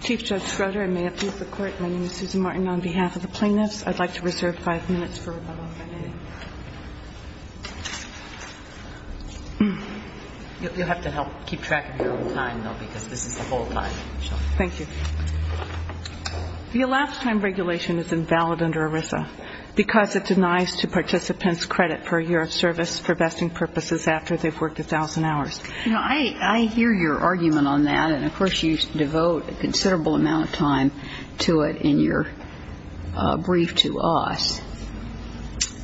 Chief Judge Schroeder, I may appease the Court. My name is Susan Martin on behalf of the plaintiffs. I'd like to reserve five minutes for rebuttal if I may. You'll have to help keep track of your own time, though, because this is the whole time, Michelle. Thank you. The elapsed time regulation is invalid under ERISA because it denies to participants credit for a year of service for vesting purposes after they've worked 1,000 hours. You know, I hear your argument on that, and, of course, you devote a considerable amount of time to it in your brief to us.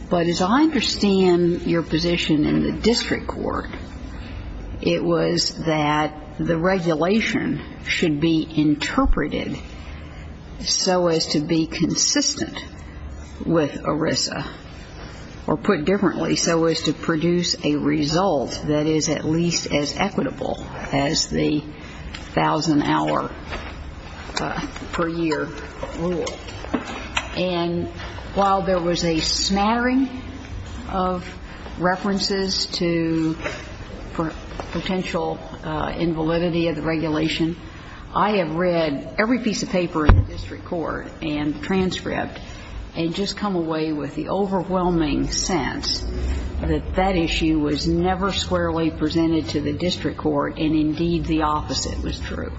But as I understand your position in the district court, it was that the regulation should be interpreted so as to be consistent with ERISA, or put differently, so as to produce a result that is at least as equitable as the 1,000-hour-per-year rule. And while there was a smattering of references to potential invalidity of the regulation, I have read every piece of paper in the district court and transcript and just come away with the overwhelming sense that that issue was never squarely presented to the district court, and, indeed, the opposite was true.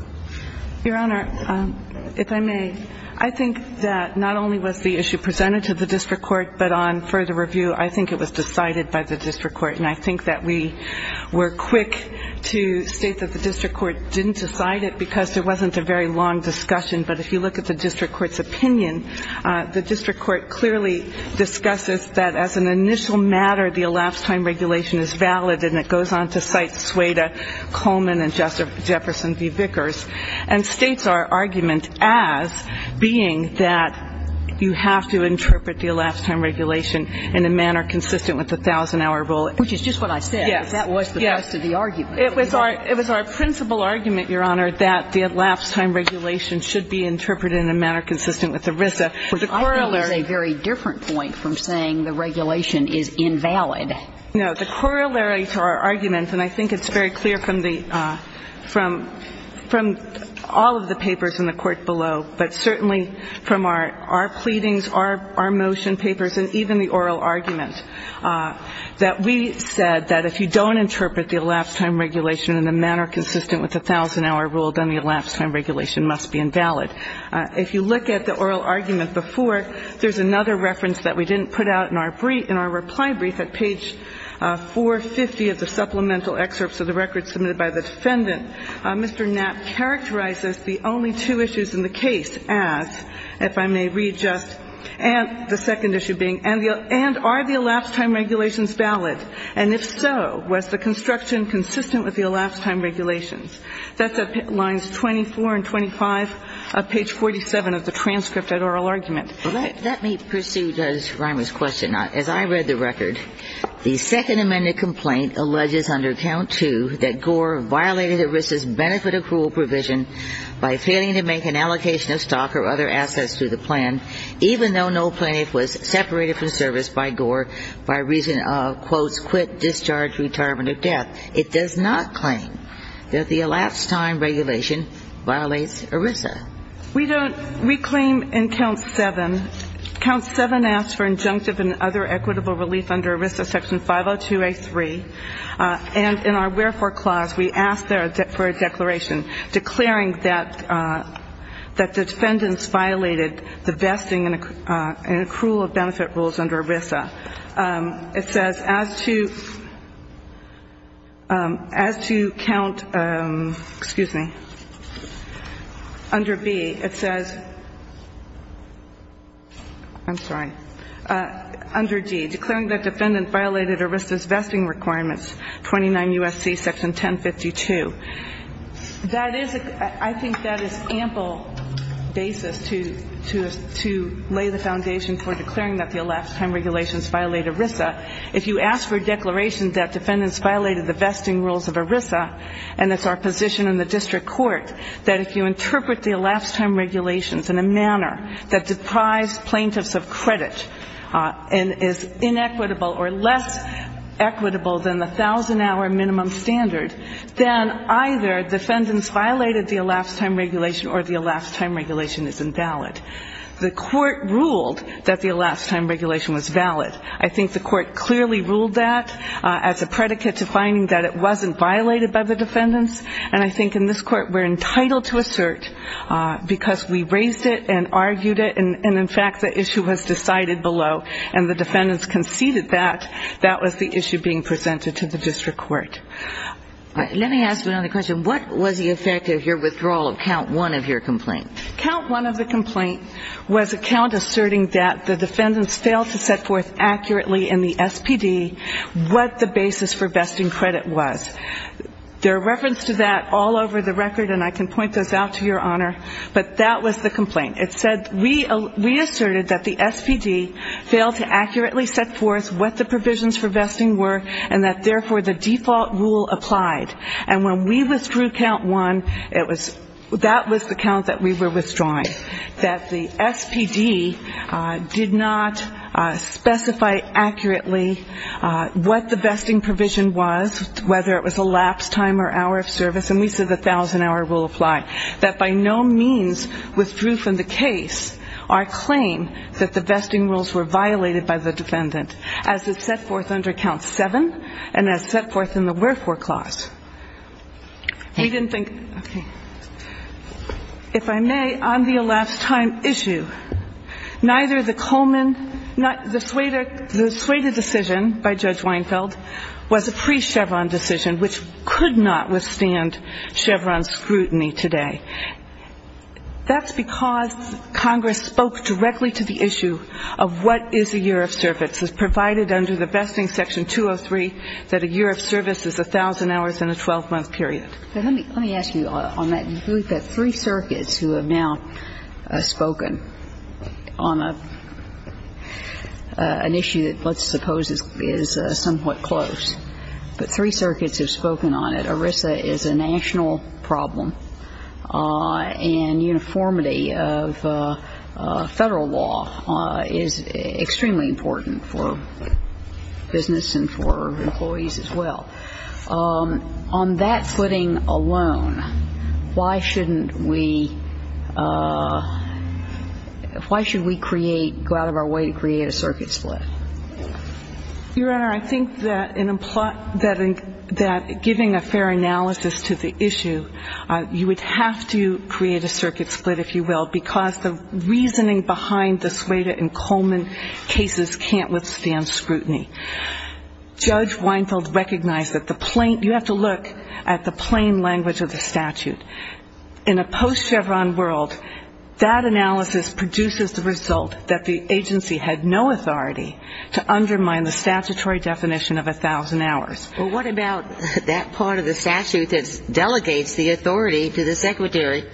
Your Honor, if I may, I think that not only was the issue presented to the district court, but on further review, I think it was decided by the district court. And I think that we were quick to state that the district court didn't decide it because there wasn't a very long discussion. But if you look at the district court's opinion, the district court clearly discusses that as an initial matter, the elapsed time regulation is valid, and it goes on to cite Sueda, Coleman, and Jefferson v. Vickers, and states our argument as being that you have to interpret the elapsed time regulation in a manner consistent with the 1,000-hour rule. Which is just what I said. Yes. That was the rest of the argument. It was our principal argument, Your Honor, that the elapsed time regulation should be interpreted in a manner consistent with ERISA. I think it's a very different point from saying the regulation is invalid. No. The corollary to our argument, and I think it's very clear from all of the papers in the court below, but certainly from our pleadings, our motion papers, and even the oral argument, that we said that if you don't interpret the elapsed time regulation in a manner consistent with the 1,000-hour rule, then the elapsed time regulation must be invalid. If you look at the oral argument before, there's another reference that we didn't put out in our reply brief. At page 450 of the supplemental excerpts of the record submitted by the defendant, Mr. Knapp characterizes the only two issues in the case as, if I may read just the second issue being, and are the elapsed time regulations valid? And if so, was the construction consistent with the elapsed time regulations? That's at lines 24 and 25 of page 47 of the transcript of the oral argument. All right. Let me pursue Judge Rimer's question. As I read the record, the Second Amendment complaint alleges under Count II that Gore violated ERISA's benefit accrual provision by failing to make an allocation of stock or other assets through the plan, even though no plaintiff was separated from service by Gore by reason of, quote, quit, discharge, retirement, or death. It does not claim that the elapsed time regulation violates ERISA. We don't. We claim in Count VII, Count VII asks for injunctive and other equitable relief under ERISA Section 502A3. And in our wherefore clause, we ask for a declaration declaring that the defendants violated the vesting and accrual of benefit rules under ERISA. It says, as to count, excuse me, under B, it says, I'm sorry, under D, declaring that defendant violated ERISA's vesting requirements, 29 U.S.C. Section 1052. I think that is ample basis to lay the foundation for declaring that the elapsed time regulations violate ERISA. If you ask for a declaration that defendants violated the vesting rules of ERISA, and it's our position in the district court that if you interpret the elapsed time regulations in a manner that deprives plaintiffs of credit and is inequitable or less equitable than the 1,000-hour minimum standard, then either defendants violated the elapsed time regulation or the elapsed time regulation is invalid. The court ruled that the elapsed time regulation was valid. I think the court clearly ruled that as a predicate to finding that it wasn't violated by the defendants, and I think in this court we're entitled to assert, because we raised it and argued it, and, in fact, the issue was decided below, and the defendants conceded that. That was the issue being presented to the district court. Let me ask you another question. What was the effect of your withdrawal of count one of your complaint? Count one of the complaint was a count asserting that the defendants failed to set forth accurately in the SPD what the basis for vesting credit was. There are references to that all over the record, and I can point those out to Your Honor, but that was the complaint. It said we asserted that the SPD failed to accurately set forth what the provisions for vesting were and that, therefore, the default rule applied. And when we withdrew count one, that was the count that we were withdrawing, that the SPD did not specify accurately what the vesting provision was, whether it was elapsed time or hour of service, and we said the 1,000-hour rule applied, that by no means withdrew from the case our claim that the vesting rules were violated by the defendant as it set forth under count seven and as set forth in the wherefore clause. We didn't think, okay, if I may, on the elapsed time issue, neither the Coleman not the Sueda decision by Judge Weinfeld was a pre-Chevron decision which could not withstand Chevron scrutiny today. That's because Congress spoke directly to the issue of what is a year of service, as provided under the Vesting Section 203 that a year of service is 1,000 hours in a 12-month period. But let me ask you on that. You've got three circuits who have now spoken on an issue that let's suppose is somewhat close. But three circuits have spoken on it. ERISA is a national problem, and uniformity of Federal law is extremely important for business and for employees as well. On that footing alone, why shouldn't we go out of our way to create a circuit split? Your Honor, I think that giving a fair analysis to the issue, you would have to create a circuit split, if you will, because the reasoning behind the Sueda and Coleman cases can't withstand scrutiny. Judge Weinfeld recognized that the plain you have to look at the plain language of the statute. In a post-Chevron world, that analysis produces the result that the agency had no authority to undermine the statutory definition of 1,000 hours. Well, what about that part of the statute that delegates the authority to the Secretary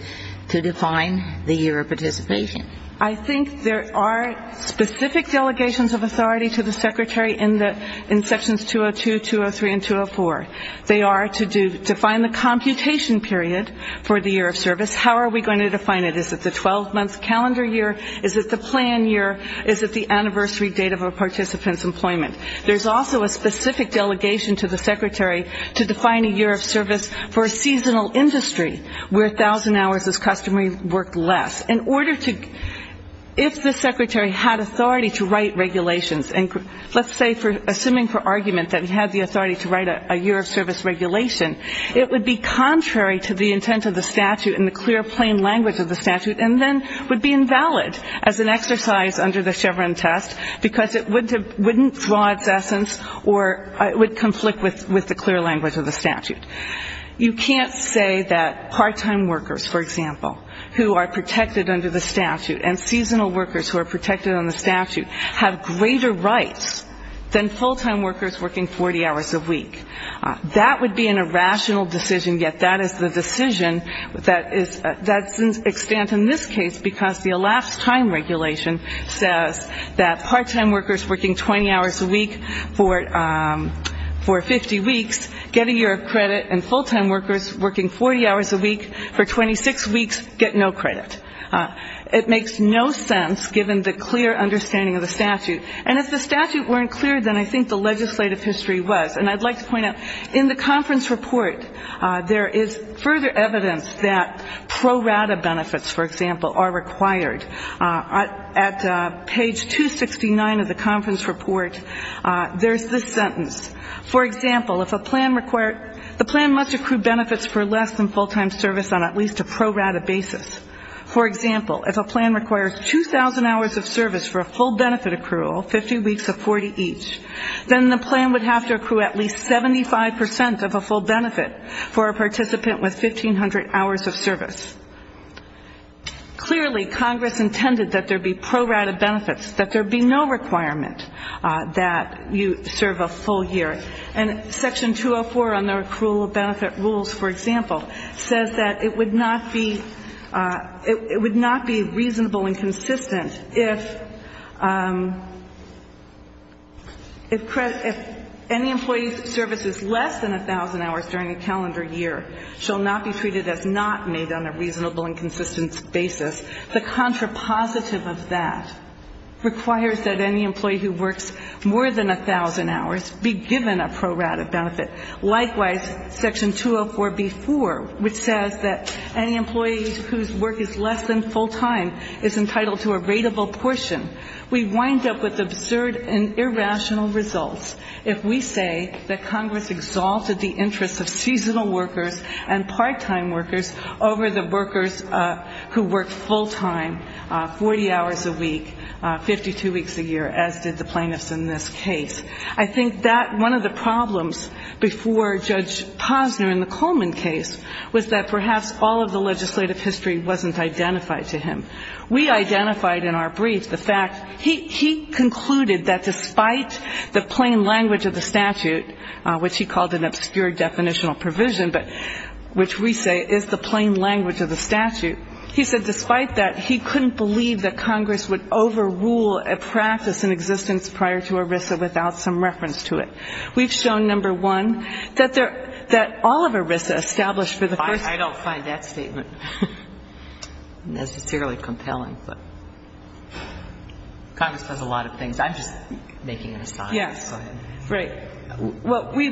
to define the year of participation? I think there are specific delegations of authority to the Secretary in Sections 202, 203, and 204. They are to define the computation period for the year of service. How are we going to define it? Is it the 12-month calendar year? Is it the plan year? Is it the anniversary date of a participant's employment? There's also a specific delegation to the Secretary to define a year of service for a seasonal industry where 1,000 hours is customary work less. If the Secretary had authority to write regulations, and let's say assuming for argument that he had the authority to write a year of service regulation, it would be contrary to the intent of the statute and the clear, plain language of the statute and then would be invalid as an exercise under the Chevron test because it wouldn't draw its essence or it would conflict with the clear language of the statute. You can't say that part-time workers, for example, who are protected under the statute and seasonal workers who are protected under the statute have greater rights than full-time workers working 40 hours a week. That would be an irrational decision, and yet that is the decision that doesn't stand in this case because the elapsed time regulation says that part-time workers working 20 hours a week for 50 weeks get a year of credit and full-time workers working 40 hours a week for 26 weeks get no credit. It makes no sense given the clear understanding of the statute. And if the statute weren't clear, then I think the legislative history was. And I'd like to point out, in the conference report, there is further evidence that pro rata benefits, for example, are required. At page 269 of the conference report, there's this sentence. For example, if a plan requires the plan must accrue benefits for less than full-time service on at least a pro rata basis. For example, if a plan requires 2,000 hours of service for a full benefit accrual, 50 weeks of 40 each, then the plan would have to accrue at least 75% of a full benefit for a participant with 1,500 hours of service. Clearly, Congress intended that there be pro rata benefits, that there be no requirement that you serve a full year. And Section 204 on the accrual of benefit rules, for example, says that it would not be reasonable and consistent if any employee's services less than 1,000 hours during a calendar year shall not be treated as not made on a reasonable and consistent basis. The contrapositive of that requires that any employee who works more than 1,000 hours be given a pro rata benefit. Likewise, Section 204b-4, which says that any employee whose work is less than full-time is entitled to a rateable portion. We wind up with absurd and irrational results if we say that Congress exalted the interests of seasonal workers and part-time workers over the workers who work full-time 40 hours a week, 52 weeks a year, as did the plaintiffs in this case. I think that one of the problems before Judge Posner in the Coleman case was that perhaps all of the legislative history wasn't identified to him. We identified in our brief the fact he concluded that despite the plain language of the statute, which he called an obscure definitional provision, but which we say is the plain language of the statute, he said despite that he couldn't believe that Congress would overrule a practice in existence prior to ERISA without some reference to it. We've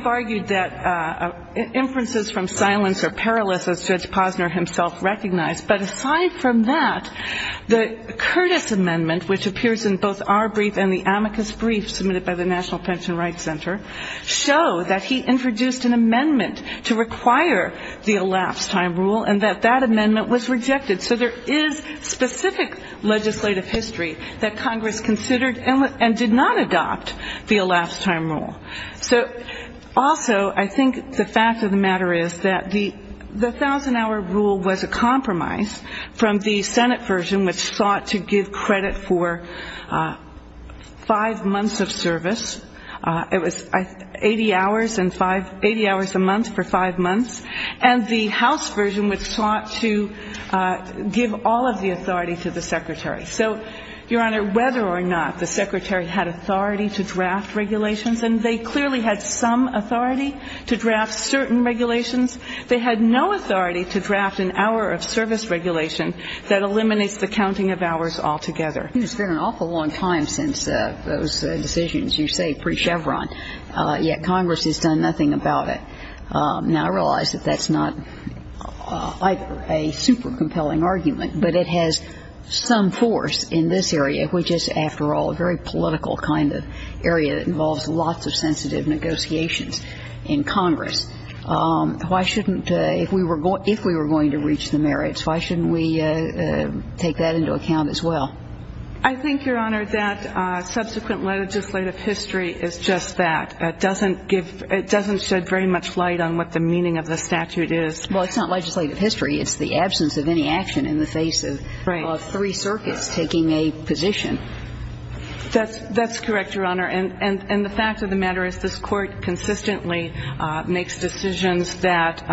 argued that inferences from silence are perilous, as Judge Posner himself recognized. But aside from that, the Curtis Amendment, which appears in both our brief and the amicus brief submitted by the National Pension Rights Center, show that he introduced an amendment to require the elapsed time rule and that that amendment was rejected. So there is specific legislative history that Congress considered and did not adopt the elapsed time rule. Also, I think the fact of the matter is that the thousand-hour rule was a compromise from the Senate version, which sought to give credit for five months of service. It was 80 hours and five — 80 hours a month for five months. And the House version which sought to give all of the authority to the Secretary. So, Your Honor, whether or not the Secretary had authority to draft regulations, and they clearly had some authority to draft certain regulations, they had no authority to draft an hour of service regulation that eliminates the counting of hours altogether. It's been an awful long time since those decisions, you say, pre-Chevron, yet Congress has done nothing about it. Now, I realize that that's not either a super compelling argument, but it has some force in this area, which is, after all, a very political kind of area that involves lots of sensitive negotiations in Congress. Why shouldn't — if we were going to reach the merits, why shouldn't we take that into account as well? I think, Your Honor, that subsequent legislative history is just that. It doesn't give — it doesn't shed very much light on what the meaning of the statute is. Well, it's not legislative history. It's the absence of any action in the face of three circuits taking a position. That's correct, Your Honor. And the fact of the matter is this Court consistently makes decisions that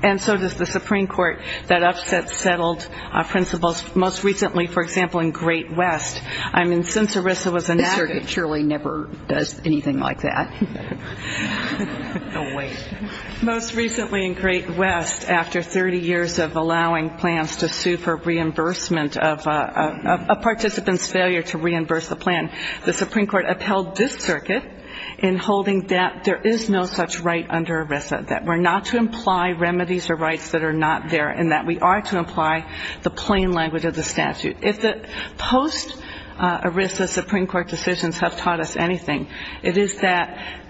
— and so does the Supreme Court that upsets settled principles, most recently, for example, in Great West. I mean, since ERISA was enacted — The Circuit surely never does anything like that. No way. Most recently in Great West, after 30 years of allowing plans to sue for reimbursement of a participant's failure to reimburse the plan, the Supreme Court upheld this circuit in holding that there is no such right under ERISA, that we're not to imply remedies or rights that are not there, and that we are to apply the plain language of the statute. If the post-ERISA Supreme Court decisions have taught us anything, it is that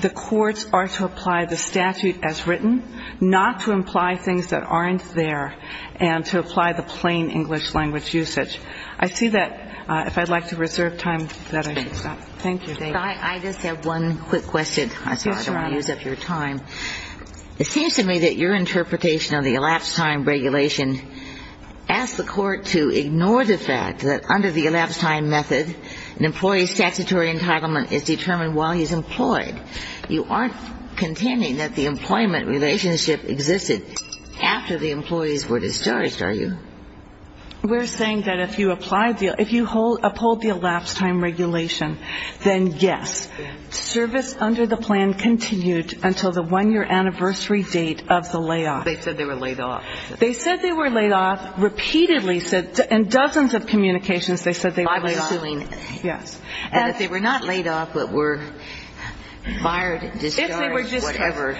the courts are to apply the statute as written, not to imply things that aren't there and to apply the plain English language usage. I see that. If I'd like to reserve time for that, I should stop. Thank you. I just have one quick question. Yes, Your Honor. I don't want to use up your time. It seems to me that your interpretation of the elapsed time regulation asks the Court to ignore the fact that under the elapsed time method, an employee's statutory entitlement is determined while he's employed. You aren't contending that the employment relationship existed after the employees were discharged, are you? We're saying that if you applied the – if you uphold the elapsed time regulation, then, yes, service under the plan continued until the one-year anniversary date of the layoff. They said they were laid off. They said they were laid off, repeatedly said – in dozens of communications, they said they were laid off. And that they were not laid off, but were fired, discharged, whatever.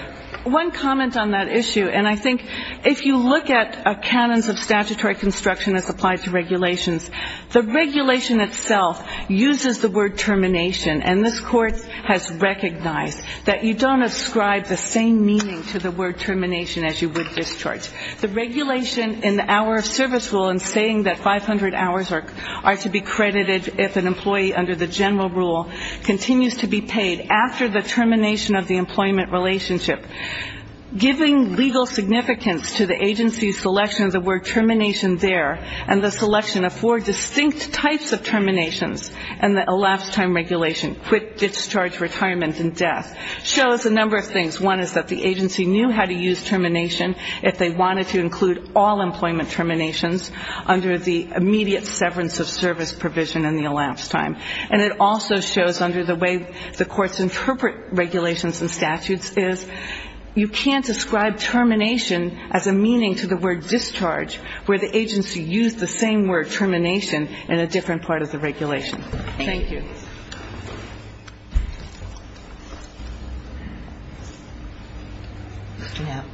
One comment on that issue, and I think if you look at canons of statutory construction as applied to regulations, the regulation itself uses the word termination, and this Court has recognized that you don't ascribe the same meaning to the word termination as you would discharge. The regulation in the hour of service rule in saying that 500 hours are to be credited if an employee under the general rule continues to be paid after the termination of the employment relationship, giving legal significance to the agency's selection of the word termination there and the selection of four distinct types of terminations in the elapsed time regulation, quit, discharge, retirement, and death, shows a number of things. One is that the agency knew how to use termination if they wanted to include all employment terminations under the immediate severance of service provision in the elapsed time. And it also shows under the way the courts interpret regulations and statutes is you can't ascribe termination as a meaning to the word discharge where the agency used the same word termination in a different part of the regulation. Thank you. Mr. Knapp.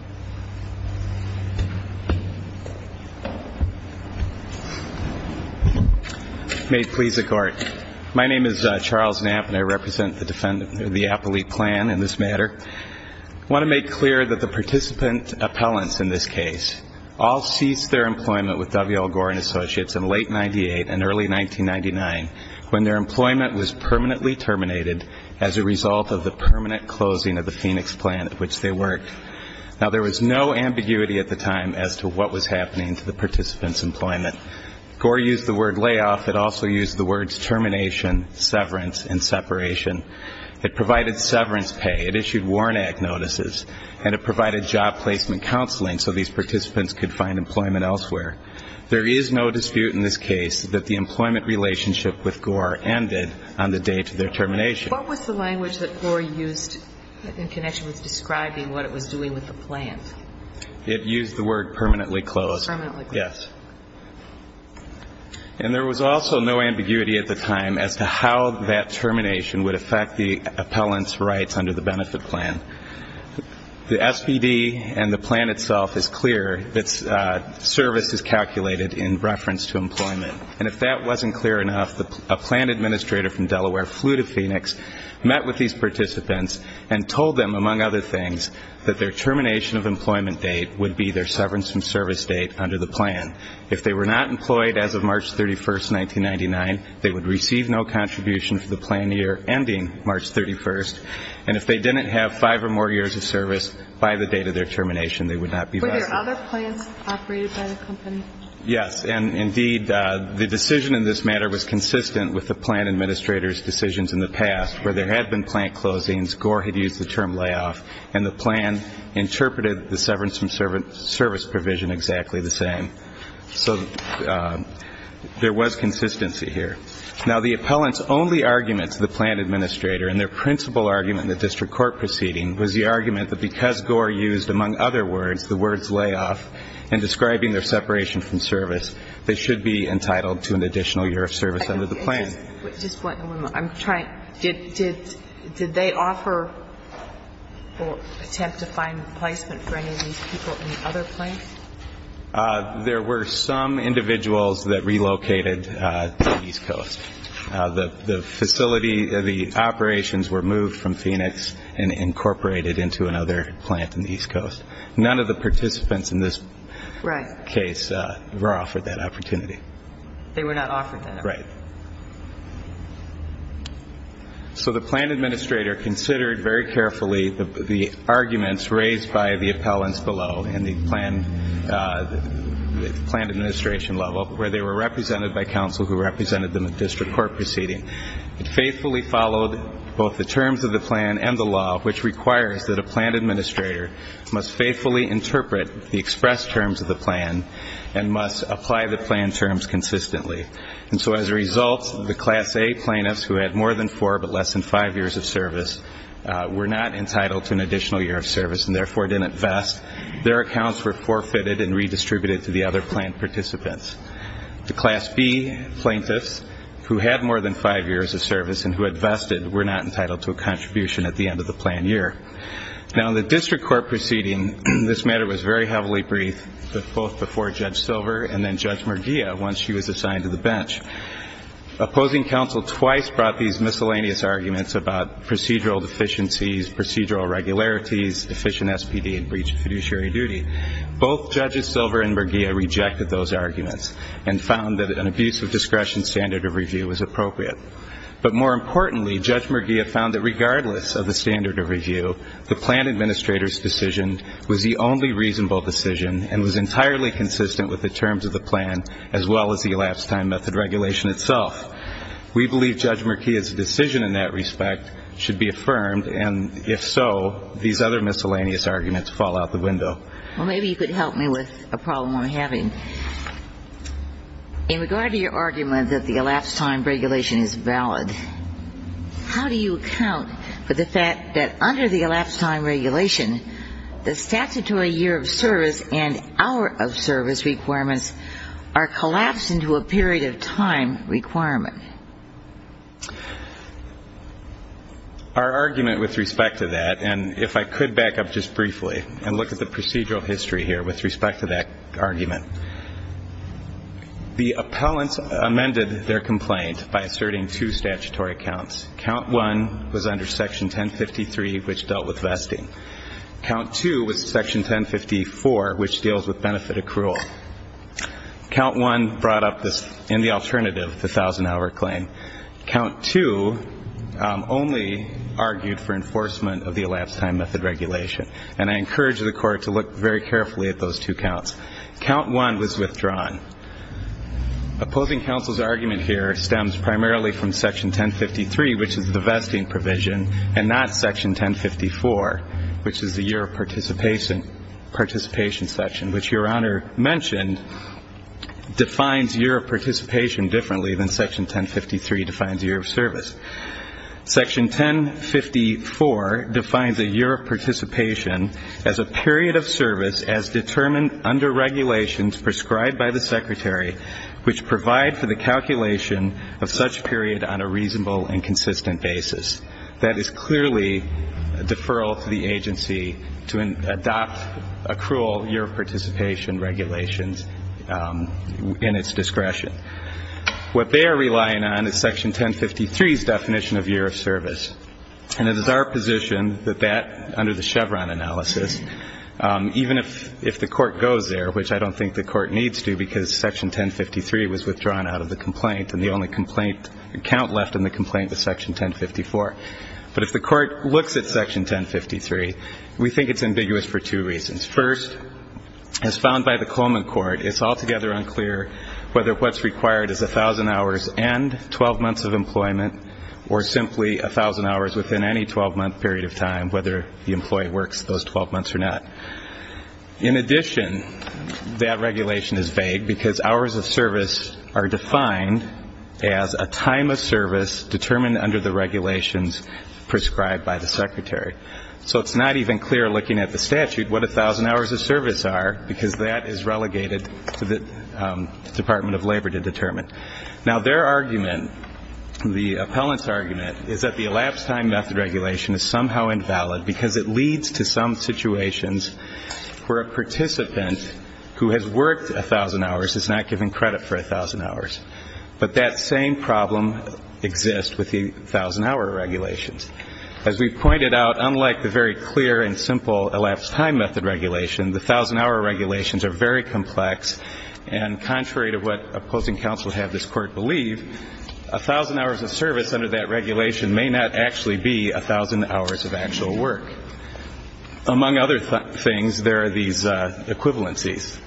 May it please the Court. My name is Charles Knapp, and I represent the appellate plan in this matter. I want to make clear that the participant appellants in this case all ceased their employment with W.L. Gorin Associates in late 1998 and early 1999 when their employment was permanently terminated as a result of the permanent closing of the Phoenix plan at which they worked. Now, there was no ambiguity at the time as to what was happening to the participant's employment. Gorin used the word layoff. It also used the words termination, severance, and separation. It provided severance pay. It issued Warren Act notices, and it provided job placement counseling so these participants could find employment elsewhere. There is no dispute in this case that the employment relationship with Gorin ended on the date of their termination. What was the language that Gorin used in connection with describing what it was doing with the plan? It used the word permanently closed. Permanently closed. Yes. And there was also no ambiguity at the time as to how that termination would affect the appellant's rights under the benefit plan. The SBD and the plan itself is clear. Its service is calculated in reference to employment. And if that wasn't clear enough, a plan administrator from Delaware flew to Phoenix, met with these participants, and told them, among other things, that their termination of employment date would be their severance and service date under the plan. If they were not employed as of March 31, 1999, they would receive no contribution for the plan year ending March 31. And if they didn't have five or more years of service by the date of their termination, they would not be vested. Were there other plans operated by the company? Yes. And, indeed, the decision in this matter was consistent with the plan administrator's decisions in the past, where there had been plan closings, Gorin had used the term layoff, and the plan interpreted the severance and service provision exactly the same. So there was consistency here. Now, the appellant's only argument to the plan administrator and their principal argument in the district court proceeding was the argument that because Gorin used, among other words, the words layoff and describing their separation from service, they should be entitled to an additional year of service under the plan. Just one moment. I'm trying. Did they offer or attempt to find replacement for any of these people in the other plans? There were some individuals that relocated to the East Coast. The facility, the operations were moved from Phoenix and incorporated into another plant in the East Coast. None of the participants in this case were offered that opportunity. They were not offered that opportunity. Right. So the plan administrator considered very carefully the arguments raised by the appellants below in the plan administration level, where they were represented by counsel who represented them at district court proceeding. It faithfully followed both the terms of the plan and the law, which requires that a plan administrator must faithfully interpret the expressed terms of the plan and must apply the plan terms consistently. And so as a result, the Class A plaintiffs, who had more than four but less than five years of service, were not entitled to an additional year of service and therefore didn't vest. Their accounts were forfeited and redistributed to the other plan participants. The Class B plaintiffs, who had more than five years of service and who had vested, were not entitled to a contribution at the end of the plan year. Now, in the district court proceeding, this matter was very heavily briefed, both before Judge Silver and then Judge Merguia once she was assigned to the bench. Opposing counsel twice brought these miscellaneous arguments about procedural deficiencies, procedural irregularities, deficient SPD and breached fiduciary duty. Both Judges Silver and Merguia rejected those arguments and found that an abuse of discretion standard of review was appropriate. But more importantly, Judge Merguia found that regardless of the standard of review, the plan administrator's decision was the only reasonable decision and was entirely consistent with the terms of the plan as well as the elapsed time method regulation itself. We believe Judge Merguia's decision in that respect should be affirmed and if so, these other miscellaneous arguments fall out the window. Well, maybe you could help me with a problem I'm having. In regard to your argument that the elapsed time regulation is valid, how do you account for the fact that under the elapsed time regulation, the statutory year of service and hour of service requirements are collapsed into a period of time requirement? Our argument with respect to that, and if I could back up just briefly and look at the procedural history here with respect to that argument, the appellants amended their complaint by asserting two statutory counts. Count one was under Section 1053, which dealt with vesting. Count two was Section 1054, which deals with benefit accrual. Count two only argued for enforcement of the elapsed time method regulation, and I encourage the Court to look very carefully at those two counts. Count one was withdrawn. Opposing counsel's argument here stems primarily from Section 1053, which is the vesting provision, and not Section 1054, which is the year of participation section, which Your Honor mentioned defines year of participation differently than Section 1053 defines year of service. Section 1054 defines a year of participation as a period of service as determined under regulations prescribed by the Secretary which provide for the calculation of such period on a reasonable and consistent basis. That is clearly a deferral to the agency to adopt accrual year of participation regulations in its discretion. What they are relying on is Section 1053's definition of year of service, and it is our position that that, under the Chevron analysis, even if the Court goes there, which I don't think the Court needs to because Section 1053 was withdrawn out of the complaint and the only count left in the complaint was Section 1054. But if the Court looks at Section 1053, we think it's ambiguous for two reasons. First, as found by the Coleman Court, it's altogether unclear whether what's required is 1,000 hours and 12 months of employment or simply 1,000 hours within any 12-month period of time, whether the employee works those 12 months or not. In addition, that regulation is vague because hours of service are defined as a time of service determined under the regulations prescribed by the Secretary. So it's not even clear looking at the statute what 1,000 hours of service are because that is relegated to the Department of Labor to determine. Now their argument, the appellant's argument, is that the elapsed time method regulation is somehow invalid because it leads to some situations where a participant who has worked 1,000 hours is not given credit for 1,000 hours. But that same problem exists with the 1,000-hour regulations. As we pointed out, unlike the very clear and simple elapsed time method regulation, the 1,000-hour regulations are very complex, and contrary to what opposing counsel have this Court believe, 1,000 hours of service under that regulation may not actually be 1,000 hours of actual work. Among other things, there are these equivalencies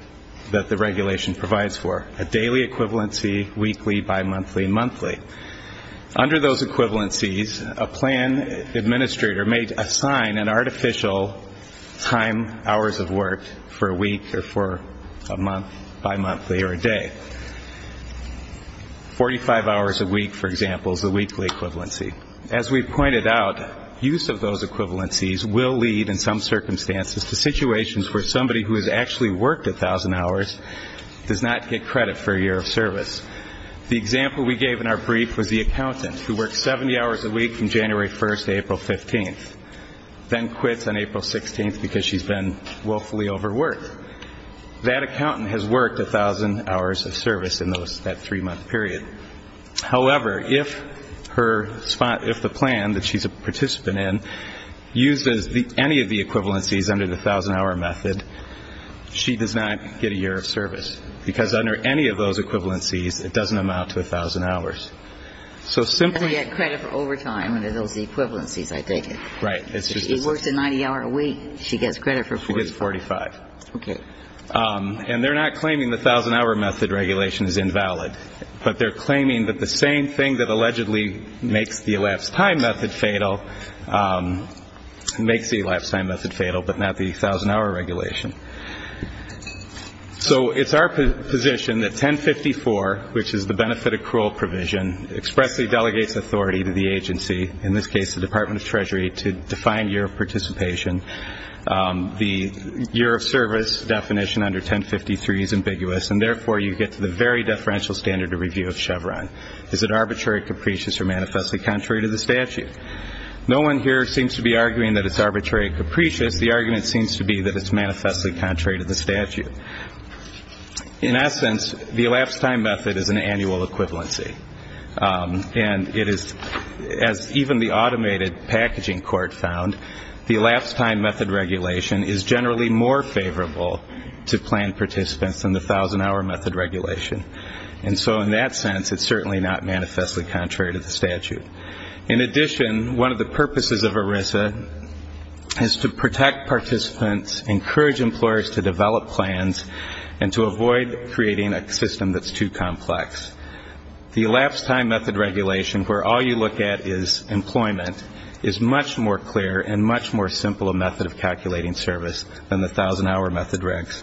that the regulation provides for, a daily equivalency, weekly, bimonthly, monthly. Under those equivalencies, a plan administrator may assign an artificial time hours of work for a week or for a month, bimonthly or a day. Forty-five hours a week, for example, is the weekly equivalency. As we pointed out, use of those equivalencies will lead, in some circumstances, to situations where somebody who has actually worked 1,000 hours does not get credit for a year of service. The example we gave in our brief was the accountant who works 70 hours a week from January 1st to April 15th, then quits on April 16th because she's been willfully overworked. That accountant has worked 1,000 hours of service in that three-month period. However, if the plan that she's a participant in uses any of the equivalencies under the 1,000-hour method, she does not get a year of service because under any of those equivalencies it doesn't amount to 1,000 hours. So simply ñ She doesn't get credit for overtime under those equivalencies, I take it. Right. She works a 90-hour a week. She gets credit for 45. She gets 45. Okay. And they're not claiming the 1,000-hour method regulation is invalid, but they're claiming that the same thing that allegedly makes the elapsed time method fatal makes the elapsed time method fatal but not the 1,000-hour regulation. So it's our position that 1054, which is the benefit accrual provision, expressly delegates authority to the agency, in this case the Department of Treasury, to define year of participation. The year of service definition under 1053 is ambiguous, and therefore you get to the very deferential standard of review of Chevron. Is it arbitrary, capricious, or manifestly contrary to the statute? No one here seems to be arguing that it's arbitrary or capricious. The argument seems to be that it's manifestly contrary to the statute. In essence, the elapsed time method is an annual equivalency, and it is, as even the automated packaging court found, the elapsed time method regulation is generally more favorable to planned participants than the 1,000-hour method regulation. And so in that sense, it's certainly not manifestly contrary to the statute. In addition, one of the purposes of ERISA is to protect participants, encourage employers to develop plans, and to avoid creating a system that's too complex. The elapsed time method regulation, where all you look at is employment, is much more clear and much more simple a method of calculating service than the 1,000-hour method regs.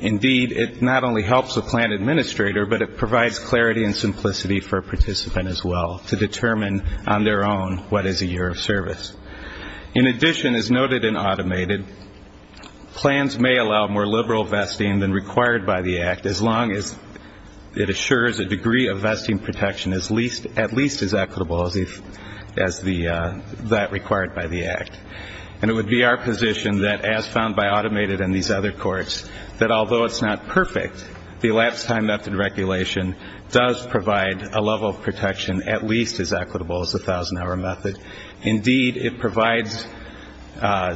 Indeed, it not only helps a plan administrator, but it provides clarity and simplicity for a participant as well to determine on their own what is a year of service. In addition, as noted in automated, plans may allow more liberal vesting than required by the Act as long as it assures a degree of vesting protection at least as equitable as that required by the Act. And it would be our position that, as found by automated and these other courts, that although it's not perfect, the elapsed time method regulation does provide a level of protection at least as equitable as the 1,000-hour method. Indeed, it provides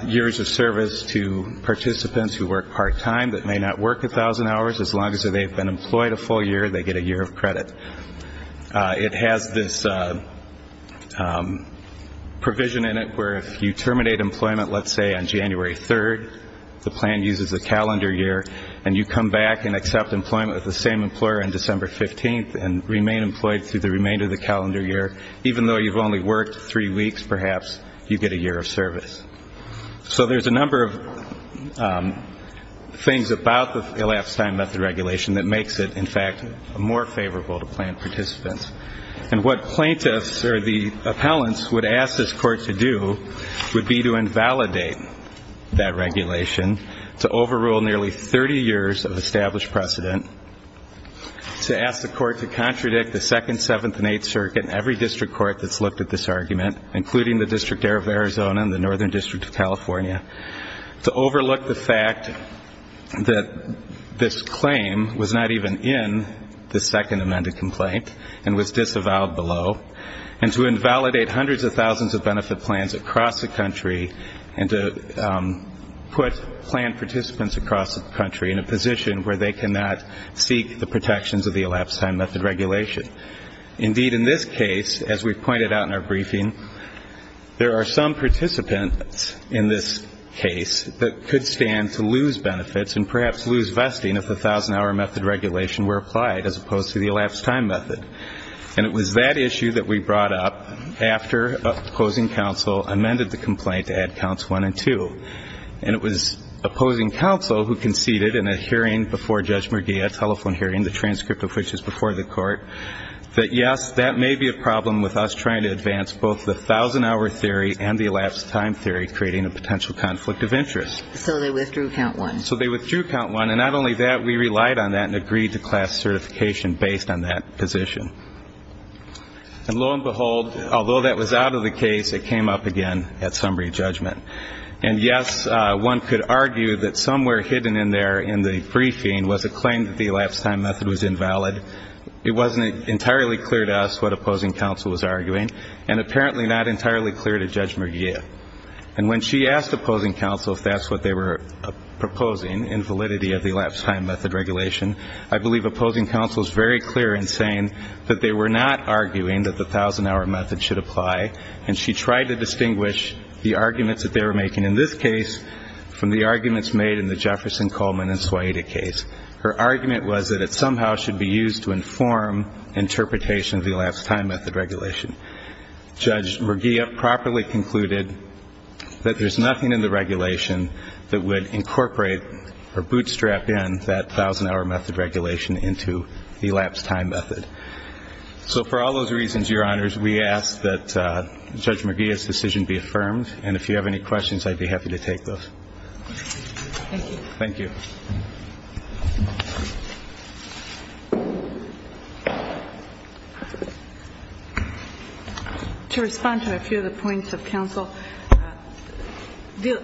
years of service to participants who work part-time that may not work 1,000 hours. As long as they've been employed a full year, they get a year of credit. It has this provision in it where if you terminate employment, let's say, on January 3rd, the plan uses a calendar year, and you come back and accept employment with the same employer on December 15th and remain employed through the remainder of the calendar year, even though you've only worked three weeks, perhaps you get a year of service. So there's a number of things about the elapsed time method regulation that makes it, in fact, more favorable to plan participants. And what plaintiffs or the appellants would ask this court to do would be to invalidate that regulation, to overrule nearly 30 years of established precedent, to ask the court to contradict the Second, Seventh, and Eighth Circuit and every district court that's looked at this argument, to overlook the fact that this claim was not even in the second amended complaint and was disavowed below, and to invalidate hundreds of thousands of benefit plans across the country and to put plan participants across the country in a position where they cannot seek the protections of the elapsed time method regulation. Indeed, in this case, as we've pointed out in our briefing, there are some participants in this case that could stand to lose benefits and perhaps lose vesting if the thousand-hour method regulation were applied as opposed to the elapsed time method. And it was that issue that we brought up after opposing counsel amended the complaint to add counts one and two. And it was opposing counsel who conceded in a hearing before Judge McGee, a telephone hearing, the transcript of which is before the court, that, yes, that may be a problem with us trying to advance both the thousand-hour theory and the elapsed time theory, creating a potential conflict of interest. So they withdrew count one. So they withdrew count one. And not only that, we relied on that and agreed to class certification based on that position. And lo and behold, although that was out of the case, it came up again at summary judgment. And, yes, one could argue that somewhere hidden in there in the briefing was a claim that the elapsed time method was invalid. It wasn't entirely clear to us what opposing counsel was arguing and apparently not entirely clear to Judge McGee. And when she asked opposing counsel if that's what they were proposing, invalidity of the elapsed time method regulation, I believe opposing counsel is very clear in saying that they were not arguing that the thousand-hour method should apply. And she tried to distinguish the arguments that they were making in this case from the arguments made in the Jefferson, Coleman, and Swaida case. Her argument was that it somehow should be used to inform interpretation of the elapsed time method regulation. Judge McGee properly concluded that there's nothing in the regulation that would incorporate or bootstrap in that thousand-hour method regulation into the elapsed time method. So for all those reasons, Your Honors, we ask that Judge McGee's decision be affirmed. And if you have any questions, I'd be happy to take those. Thank you. Thank you. To respond to a few of the points of counsel, the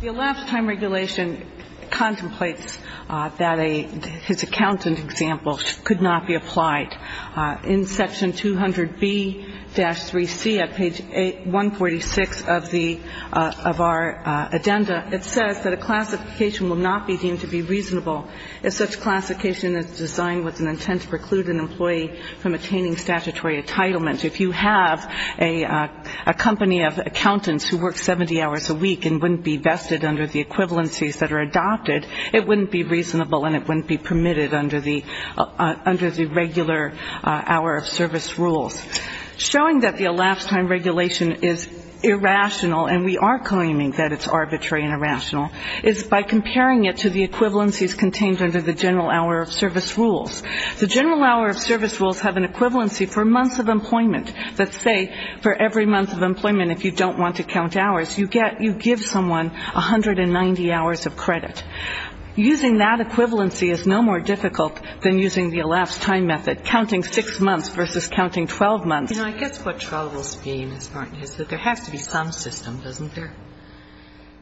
elapsed time regulation contemplates that his accountant example could not be applied. In section 200B-3C of page 146 of our addenda, it says that a classification will not be deemed to be reasonable if such classification is designed with an intent to preclude an employee from attaining statutory entitlement. If you have a company of accountants who work 70 hours a week and wouldn't be vested under the equivalencies that are adopted, it wouldn't be reasonable and it wouldn't be permitted under the regular hour-of-service rules. Showing that the elapsed time regulation is irrational, and we are claiming that it's arbitrary and irrational, is by comparing it to the equivalencies contained under the general hour-of-service rules. The general hour-of-service rules have an equivalency for months of employment that say for every month of employment, if you don't want to count hours, you give someone 190 hours of credit. Using that equivalency is no more difficult than using the elapsed time method, counting 6 months versus counting 12 months. You know, I guess what troubles me, Ms. Martin, is that there has to be some system, doesn't there?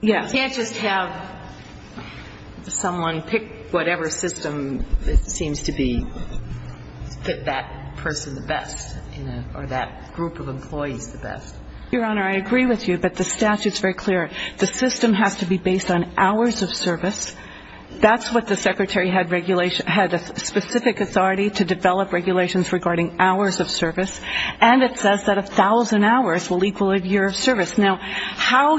Yes. You can't just have someone pick whatever system seems to be, fit that person the best or that group of employees the best. Your Honor, I agree with you, but the statute is very clear. The system has to be based on hours-of-service. That's what the Secretary had a specific authority to develop regulations regarding hours-of-service, and it says that 1,000 hours will equal a year-of-service. Now, how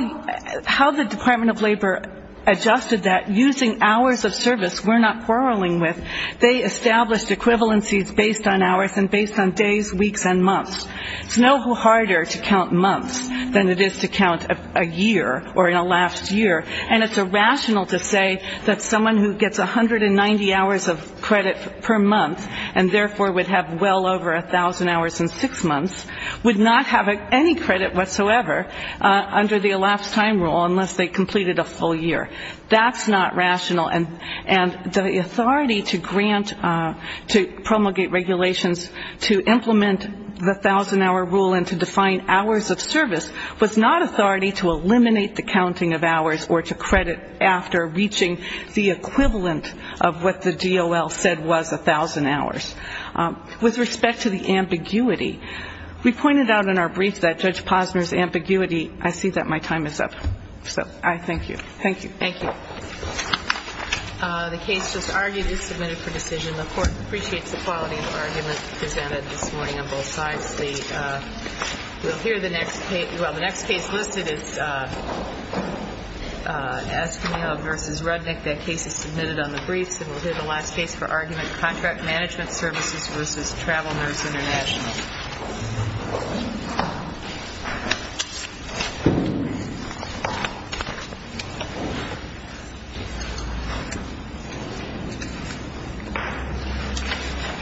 the Department of Labor adjusted that using hours-of-service, we're not quarreling with, they established equivalencies based on hours and based on days, weeks, and months. It's no harder to count months than it is to count a year or an elapsed year, and it's irrational to say that someone who gets 190 hours of credit per month and therefore would have well over 1,000 hours in 6 months would not have any credit whatsoever under the elapsed time rule unless they completed a full year. That's not rational. And the authority to grant, to promulgate regulations to implement the 1,000-hour rule and to define hours-of-service was not authority to eliminate the counting of hours or to credit after reaching the equivalent of what the DOL said was 1,000 hours. With respect to the ambiguity, we pointed out in our brief that Judge Posner's ambiguity, I see that my time is up, so I thank you. Thank you. Thank you. The case just argued is submitted for decision. The Court appreciates the quality of the argument presented this morning on both sides. We'll hear the next case. Well, the next case listed is Askinell v. Rudnick. That case is submitted on the briefs, and we'll hear the last case for argument, Contract Management Services v. Travel Nurse International. Thank you.